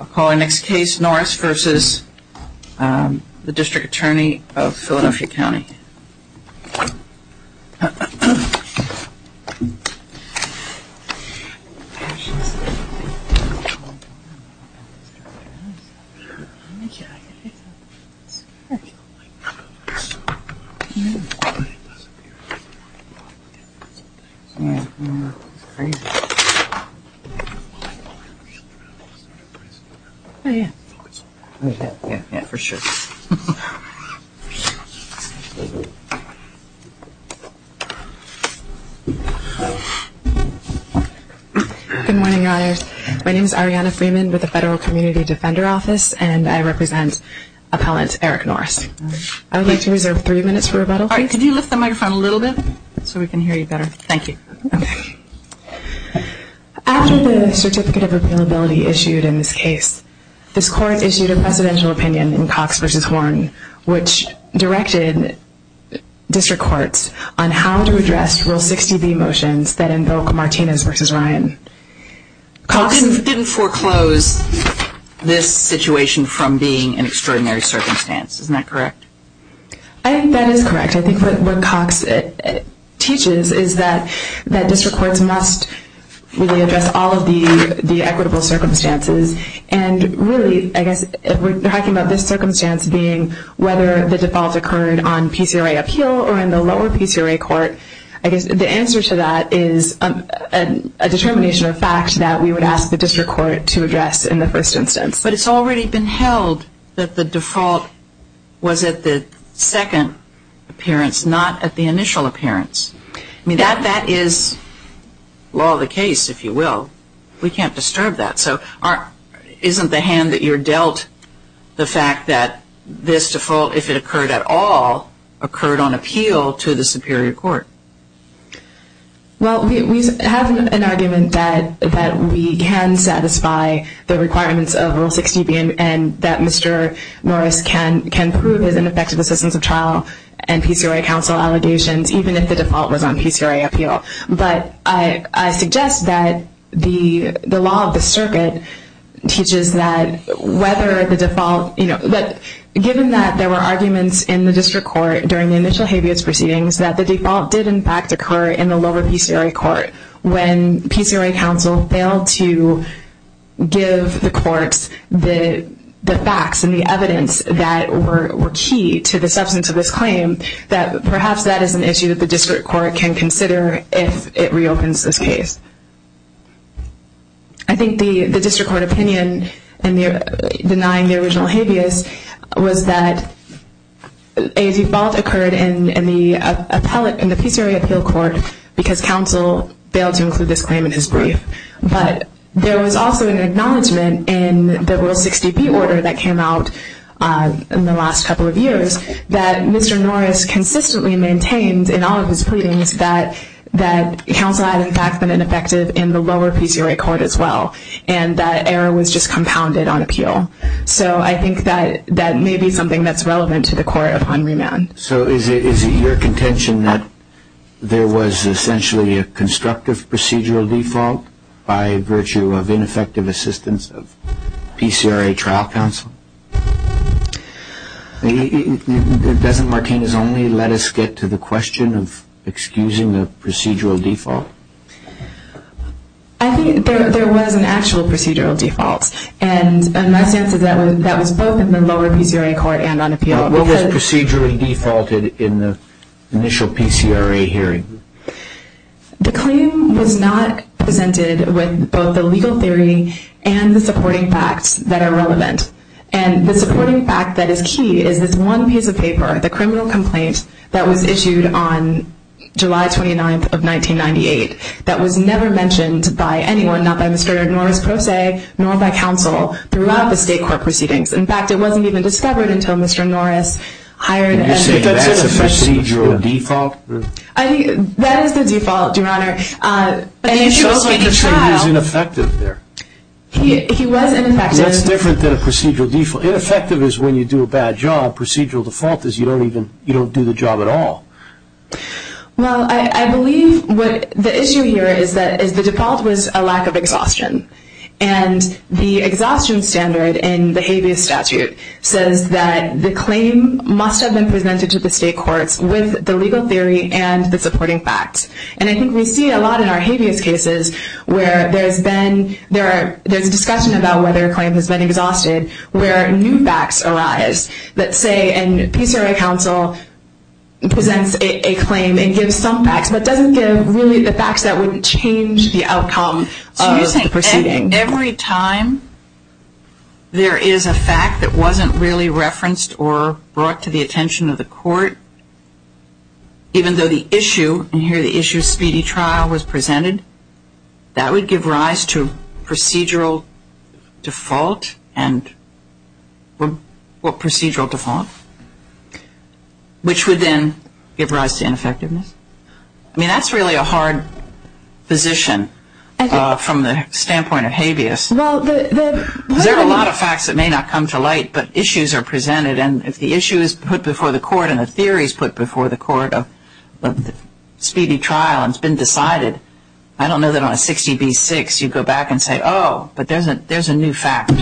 I'll call our next case, Norris v. the District Attorney of Philadelphia County. Good morning, Your Honors. My name is Arianna Freeman with the Federal Community Defender Office and I represent appellant Eric Norris. I would like to reserve three minutes for rebuttal. Could you lift the microphone a little bit so we can hear you better? Thank you. After the Certificate of Appealability issued in this case, this Court issued a Presidential Opinion in Cox v. Horn, which directed District Courts on how to address Rule 60b motions that invoke Martinez v. Ryan. Cox didn't foreclose this situation from being an extraordinary circumstance, isn't that correct? I think that is correct. I think what Cox teaches is that District Courts must really address all of the equitable circumstances. And really, I guess, if we're talking about this circumstance being whether the default occurred on PCRA appeal or in the lower PCRA court, I guess the answer to that is a determination of fact that we would ask the District Court to address in the first instance. But it's already been held that the default was at the second appearance, not at the initial appearance. I mean, that is law of the case, if you will. We can't disturb that. So isn't the hand that you're dealt the fact that this default, if it occurred at all, occurred on appeal to the Superior Court? Well, we have an argument that we can satisfy the requirements of Rule 60b and that Mr. Norris can prove his ineffective assistance of trial and PCRA counsel allegations, even if the default was on PCRA appeal. But I suggest that the law of the circuit teaches that whether the default, you know, did in fact occur in the lower PCRA court when PCRA counsel failed to give the courts the facts and the evidence that were key to the substance of this claim, that perhaps that is an issue that the District Court can consider if it reopens this case. I think the District Court opinion in denying the original habeas was that a default occurred in the PCRA appeal court because counsel failed to include this claim in his brief. But there was also an acknowledgment in the Rule 60b order that came out in the last couple of years that Mr. Norris consistently maintained in all of his pleadings that counsel had in fact been ineffective in the lower PCRA court as well, and that error was just compounded on appeal. So I think that may be something that's relevant to the court upon remand. So is it your contention that there was essentially a constructive procedural default by virtue of ineffective assistance of PCRA trial counsel? Doesn't Martinez only let us get to the question of excusing the procedural default? I think there was an actual procedural default, and my sense is that was both in the lower PCRA court and on appeal. What was procedurally defaulted in the initial PCRA hearing? The claim was not presented with both the legal theory and the supporting facts that are relevant. And the supporting fact that is key is this one piece of paper, the criminal complaint, that was issued on July 29th of 1998 that was never mentioned by anyone, not by Mr. Norris, per se, nor by counsel throughout the state court proceedings. In fact, it wasn't even discovered until Mr. Norris hired... You're saying that's a procedural default? That is the default, Your Honor. He was ineffective there. That's different than a procedural default. Ineffective is when you do a bad job. Procedural default is you don't do the job at all. Well, I believe the issue here is that the default was a lack of exhaustion. And the exhaustion standard in the habeas statute says that the claim must have been presented to the state courts with the legal theory and the supporting facts. And I think we see a lot in our habeas cases where there's a discussion about whether a claim has been exhausted, where new facts arise that say a PCRA counsel presents a claim and gives some facts, but doesn't give really the facts that would change the outcome of the proceeding. Every time there is a fact that wasn't really referenced or brought to the attention of the court, even though the issue, and here the issue of speedy trial was presented, that would give rise to procedural default, or procedural default, which would then give rise to ineffectiveness. I mean, that's really a hard position from the standpoint of habeas. There are a lot of facts that may not come to light, but issues are presented. And if the issue is put before the court and the theory is put before the court of speedy trial and it's been decided, I don't know that on a 60B6 you go back and say, oh, but there's a new fact.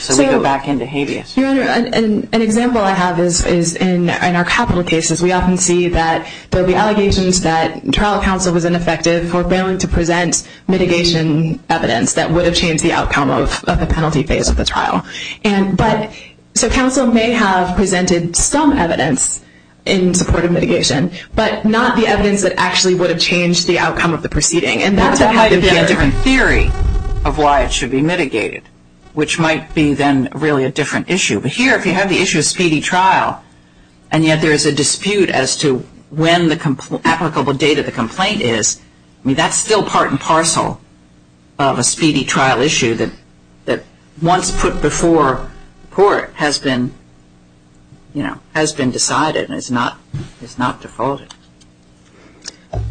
So we go back into habeas. Your Honor, an example I have is in our capital cases. We often see that there will be allegations that trial counsel was ineffective for failing to present mitigation evidence that would have changed the outcome of the penalty phase of the trial. But not the evidence that actually would have changed the outcome of the proceeding. And that might be a different theory of why it should be mitigated, which might be then really a different issue. But here, if you have the issue of speedy trial, and yet there is a dispute as to when the applicable date of the complaint is, I mean, that's still part and parcel of a speedy trial issue that once put before court has been decided. And it's not defaulted.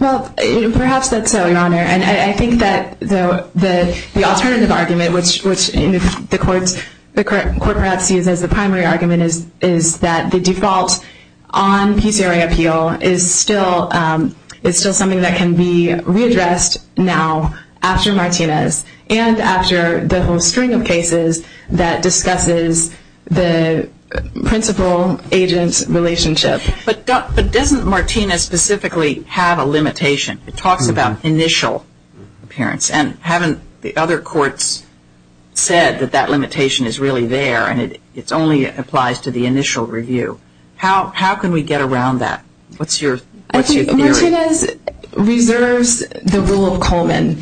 Well, perhaps that's so, Your Honor. And I think that the alternative argument, which the court perhaps sees as the primary argument, is that the default on PCRA appeal is still something that can be readdressed now after Martinez and after the whole string of cases that discusses the principal-agent relationship. But doesn't Martinez specifically have a limitation? It talks about initial appearance. And haven't the other courts said that that limitation is really there and it only applies to the initial review? How can we get around that? What's your theory? Martinez reserves the rule of Coleman.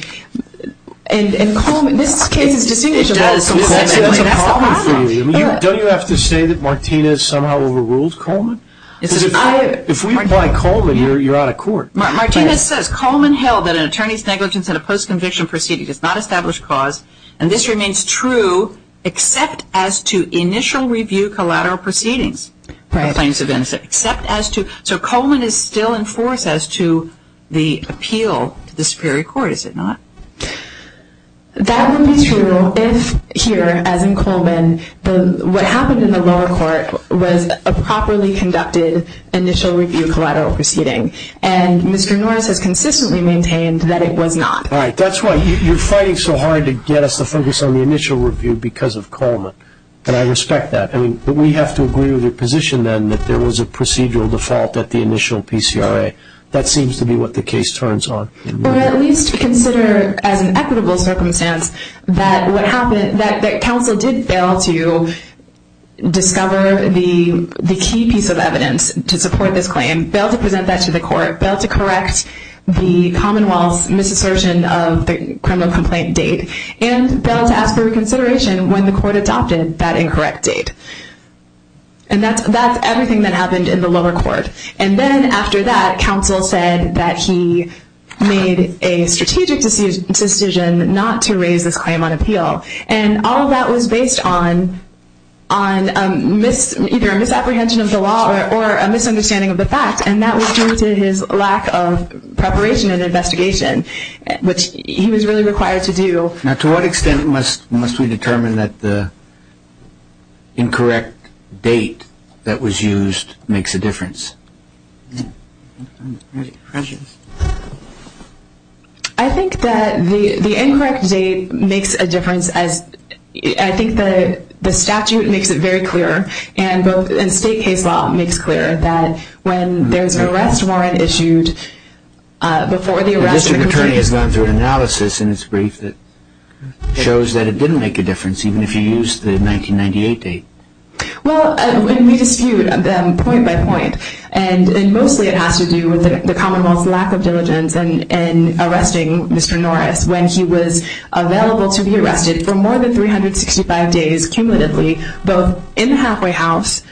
And Coleman, this case is distinguishable from Coleman. That's a problem for you. Don't you have to say that Martinez somehow overruled Coleman? Because if we apply Coleman, you're out of court. Martinez says Coleman held that an attorney's negligence in a post-conviction proceeding does not establish cause, and this remains true except as to initial review collateral proceedings. Right. So Coleman is still in force as to the appeal to the Superior Court, is it not? That would be true if here, as in Coleman, what happened in the lower court was a properly conducted initial review collateral proceeding. And Mr. Norris has consistently maintained that it was not. All right. That's why you're fighting so hard to get us to focus on the initial review because of Coleman. And I respect that. But we have to agree with your position then that there was a procedural default at the initial PCRA. That seems to be what the case turns on. Or at least consider as an equitable circumstance that what happened, that counsel did fail to discover the key piece of evidence to support this claim, fail to present that to the court, fail to correct the Commonwealth's misassertion of the criminal complaint date, and fail to ask for reconsideration when the court adopted that incorrect date. And that's everything that happened in the lower court. And then after that, counsel said that he made a strategic decision not to raise this claim on appeal. And all of that was based on either a misapprehension of the law or a misunderstanding of the facts, and that was due to his lack of preparation and investigation, which he was really required to do. Now, to what extent must we determine that the incorrect date that was used makes a difference? I think that the incorrect date makes a difference. I think the statute makes it very clear, and state case law makes clear, that when there's an arrest warrant issued before the arrest... The district attorney has gone through an analysis in his brief that shows that it didn't make a difference, even if you used the 1998 date. Well, we dispute them point by point, and mostly it has to do with the Commonwealth's lack of diligence in arresting Mr. Norris when he was available to be arrested for more than 365 days, both in the halfway house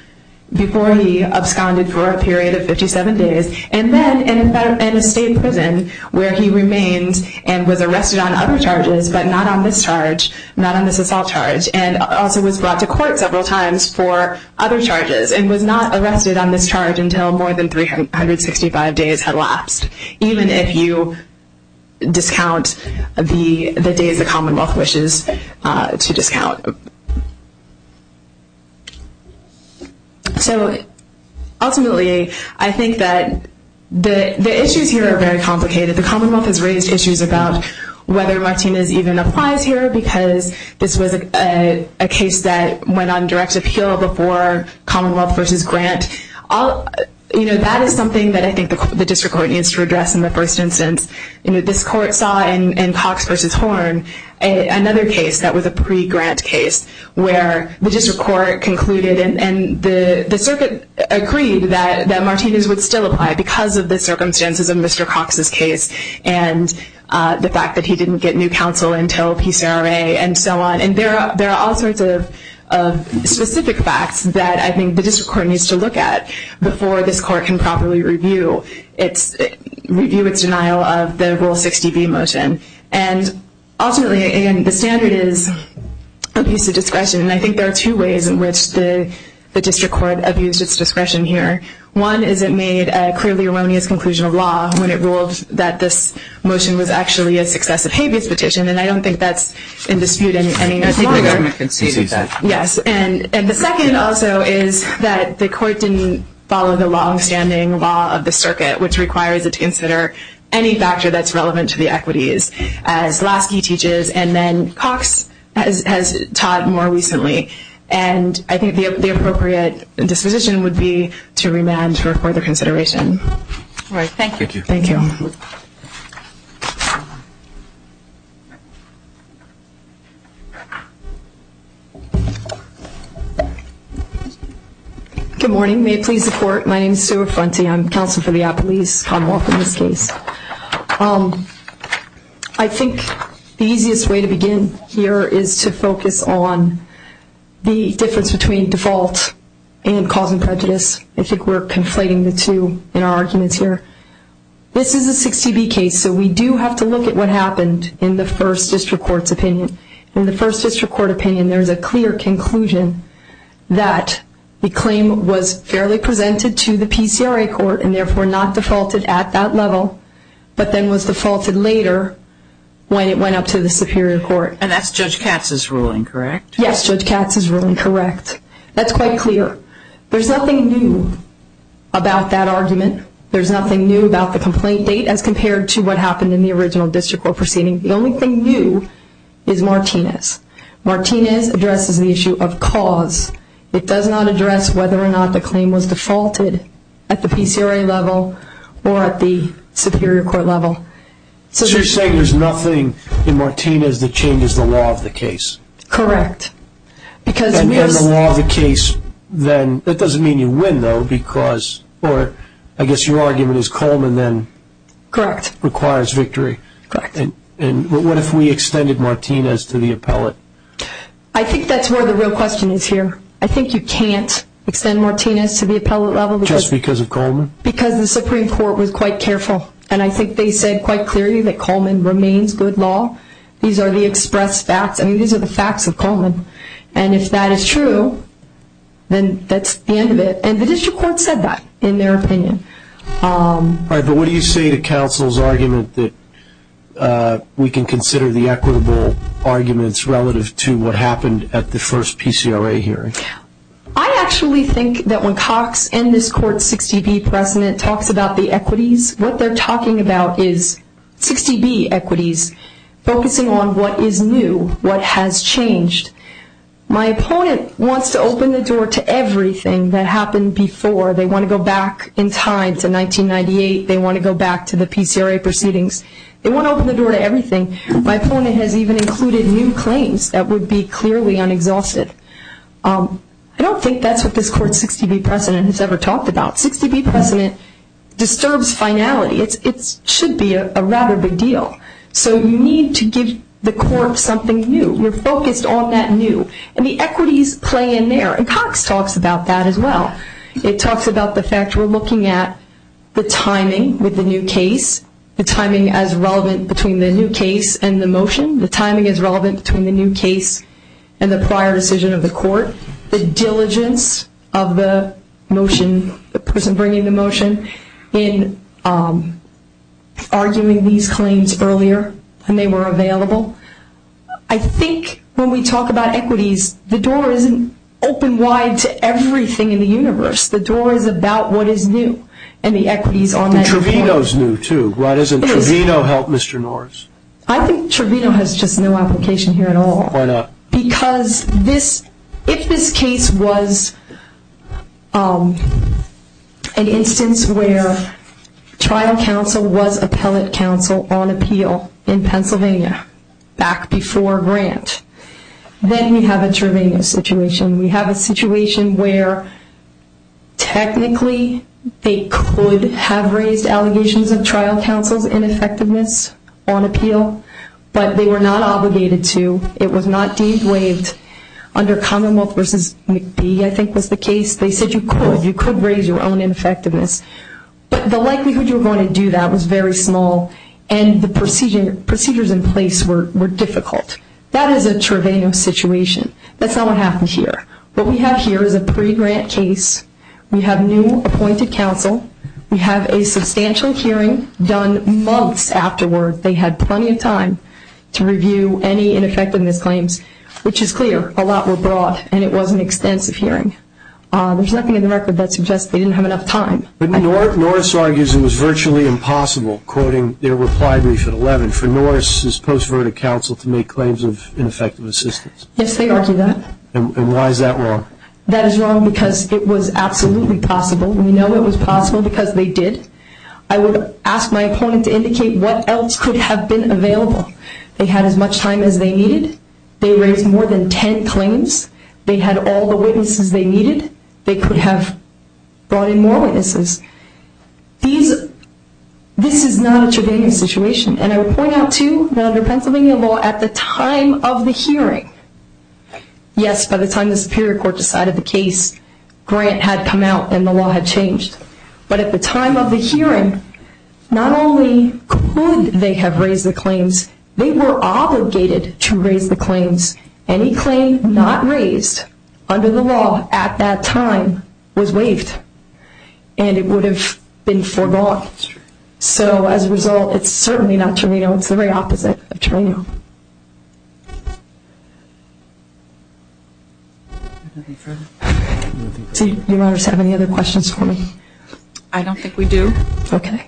before he absconded for a period of 57 days, and then in a state prison where he remained and was arrested on other charges, but not on this charge, not on this assault charge, and also was brought to court several times for other charges, and was not arrested on this charge until more than 365 days had lapsed, even if you discount the days the Commonwealth wishes to discount. Ultimately, I think that the issues here are very complicated. The Commonwealth has raised issues about whether Martinez even applies here, because this was a case that went on direct appeal before Commonwealth v. Grant. That is something that I think the district court needs to address in the first instance. This court saw in Cox v. Horn another case that was a pre-Grant case, where the district court concluded and the circuit agreed that Martinez would still apply because of the circumstances of Mr. Cox's case and the fact that he didn't get new counsel until PCRA and so on. There are all sorts of specific facts that I think the district court needs to look at before this court can properly review its denial of the Rule 60B motion. Ultimately, the standard is abuse of discretion, and I think there are two ways in which the district court abused its discretion here. One is it made a clearly erroneous conclusion of law when it ruled that this motion was actually a successive habeas petition, and I don't think that's in dispute any longer. I think the government conceded that. Yes, and the second also is that the court didn't follow the longstanding law of the circuit, which requires it to consider any factor that's relevant to the equities, as Lasky teaches, and then Cox has taught more recently, and I think the appropriate disposition would be to remand for further consideration. All right, thank you. Thank you. Thank you. Good morning. May it please the Court, my name is Sue Affronti. I'm counsel for the Appalachian Commonwealth in this case. I think the easiest way to begin here is to focus on the difference between default and causing prejudice. I think we're conflating the two in our arguments here. This is a 60B case, so we do have to look at what happened in the first district court's opinion. In the first district court opinion, there's a clear conclusion that the claim was fairly presented to the PCRA court and therefore not defaulted at that level, but then was defaulted later when it went up to the Superior Court. And that's Judge Katz's ruling, correct? Yes, Judge Katz's ruling, correct. That's quite clear. There's nothing new about that argument. There's nothing new about the complaint date as compared to what happened in the original district court proceeding. The only thing new is Martinez. Martinez addresses the issue of cause. It does not address whether or not the claim was defaulted at the PCRA level or at the Superior Court level. So you're saying there's nothing in Martinez that changes the law of the case? Correct. And in the law of the case, that doesn't mean you win, though. I guess your argument is Coleman then requires victory. Correct. And what if we extended Martinez to the appellate? I think that's where the real question is here. I think you can't extend Martinez to the appellate level. Just because of Coleman? Because the Supreme Court was quite careful, and I think they said quite clearly that Coleman remains good law. These are the expressed facts. I mean, these are the facts of Coleman. And if that is true, then that's the end of it. And the district court said that, in their opinion. All right, but what do you say to counsel's argument that we can consider the equitable arguments relative to what happened at the first PCRA hearing? I actually think that when Cox and this court's 60B precedent talks about the equities, what they're talking about is 60B equities, focusing on what is new, what has changed. My opponent wants to open the door to everything that happened before. They want to go back in time to 1998. They want to go back to the PCRA proceedings. They want to open the door to everything. My opponent has even included new claims that would be clearly unexhausted. I don't think that's what this court's 60B precedent has ever talked about. 60B precedent disturbs finality. It should be a rather big deal. So you need to give the court something new. We're focused on that new. And the equities play in there. And Cox talks about that as well. It talks about the fact we're looking at the timing with the new case, the timing as relevant between the new case and the motion, the timing as relevant between the new case and the prior decision of the court, the diligence of the motion, the person bringing the motion, in arguing these claims earlier when they were available. I think when we talk about equities, the door isn't open wide to everything in the universe. The door is about what is new, and the equities are meant for that. And Trevino's new too, right? Doesn't Trevino help Mr. Norris? I think Trevino has just no application here at all. Why not? Because if this case was an instance where trial counsel was appellate counsel on appeal in Pennsylvania back before Grant, then we have a Trevino situation. We have a situation where technically they could have raised allegations of trial counsel's ineffectiveness on appeal, but they were not obligated to. It was not deemed waived under Commonwealth v. McBee, I think was the case. They said you could. You could raise your own ineffectiveness. But the likelihood you were going to do that was very small, and the procedures in place were difficult. That is a Trevino situation. That's not what happened here. What we have here is a pre-Grant case. We have new appointed counsel. We have a substantial hearing done months afterward. They had plenty of time to review any ineffectiveness claims, which is clear. A lot were brought, and it was an extensive hearing. There's nothing in the record that suggests they didn't have enough time. Norris argues it was virtually impossible, quoting their reply brief at 11, for Norris's post-verdict counsel to make claims of ineffective assistance. Yes, they argue that. And why is that wrong? That is wrong because it was absolutely possible. We know it was possible because they did. I would ask my opponent to indicate what else could have been available. They had as much time as they needed. They raised more than 10 claims. They had all the witnesses they needed. They could have brought in more witnesses. This is not a Trevino situation. And I would point out, too, that under Pennsylvania law, at the time of the hearing, yes, by the time the Superior Court decided the case, Grant had come out and the law had changed. But at the time of the hearing, not only could they have raised the claims, they were obligated to raise the claims. Any claim not raised under the law at that time was waived, and it would have been foregone. So as a result, it's certainly not Trevino. It's the very opposite of Trevino. Do you have any other questions for me? I don't think we do. Okay.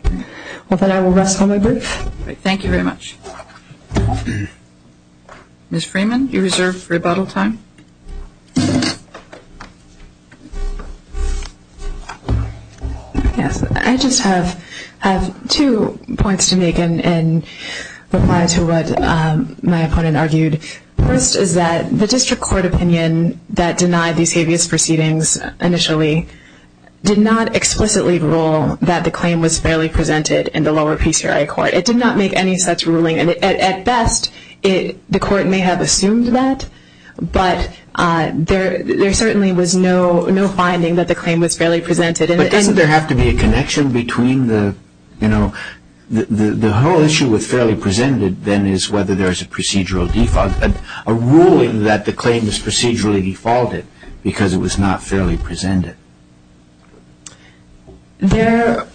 Well, then I will rest on my brief. Thank you very much. Ms. Freeman, you reserve rebuttal time. Yes. I just have two points to make in reply to what my opponent argued. First is that the district court opinion that denied these habeas proceedings initially did not explicitly rule that the claim was fairly presented in the lower PCRI court. It did not make any such ruling. At best, the court may have assumed that, but there certainly was no finding that the claim was fairly presented. But doesn't there have to be a connection between the, you know, the whole issue with fairly presented then is whether there is a procedural default, a ruling that the claim is procedurally defaulted because it was not fairly presented. There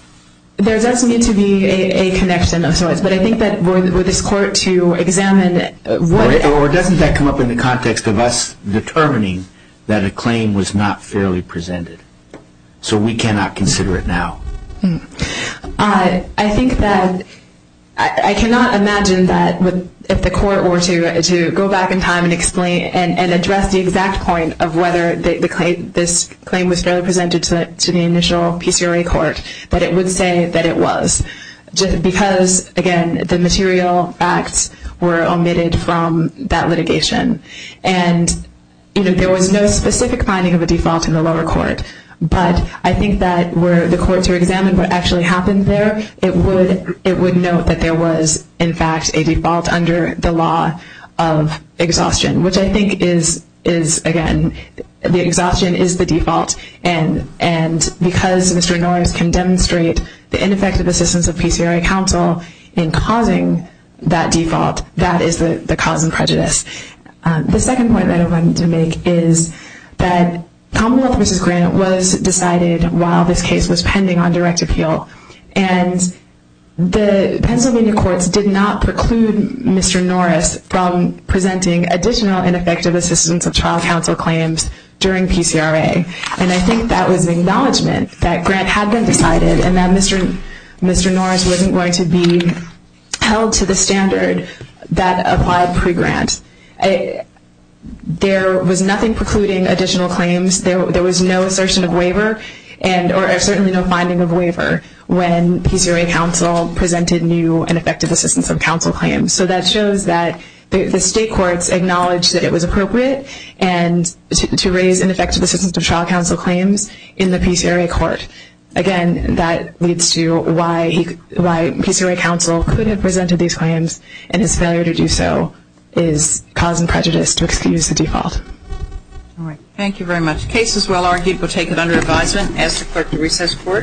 does need to be a connection of sorts, but I think that for this court to examine it would. Or doesn't that come up in the context of us determining that a claim was not fairly presented. So we cannot consider it now. I think that I cannot imagine that if the court were to go back in time and explain and address the exact point of whether this claim was fairly presented to the initial PCRI court, that it would say that it was. Because, again, the material facts were omitted from that litigation. And, you know, there was no specific finding of a default in the lower court. But I think that were the court to examine what actually happened there, it would note that there was, in fact, a default under the law of exhaustion, which I think is, again, the exhaustion is the default. And because Mr. Norris can demonstrate the ineffective assistance of PCRI counsel in causing that default, that is the cause of prejudice. The second point that I wanted to make is that Commonwealth v. Grant was decided while this case was pending on direct appeal. And the Pennsylvania courts did not preclude Mr. Norris from presenting additional and effective assistance of trial counsel claims during PCRI. And I think that was an acknowledgment that Grant had been decided and that Mr. Norris wasn't going to be held to the standard that applied pre-Grant. There was nothing precluding additional claims. There was no assertion of waiver or certainly no finding of waiver when PCRI counsel presented new and effective assistance of counsel claims. So that shows that the state courts acknowledged that it was appropriate to raise ineffective assistance of trial counsel claims in the PCRI court. Again, that leads to why PCRI counsel could have presented these claims and his failure to do so is cause and prejudice to excuse the default. Thank you very much. Case is well argued. We'll take it under advisement. Ask the clerk to recess court.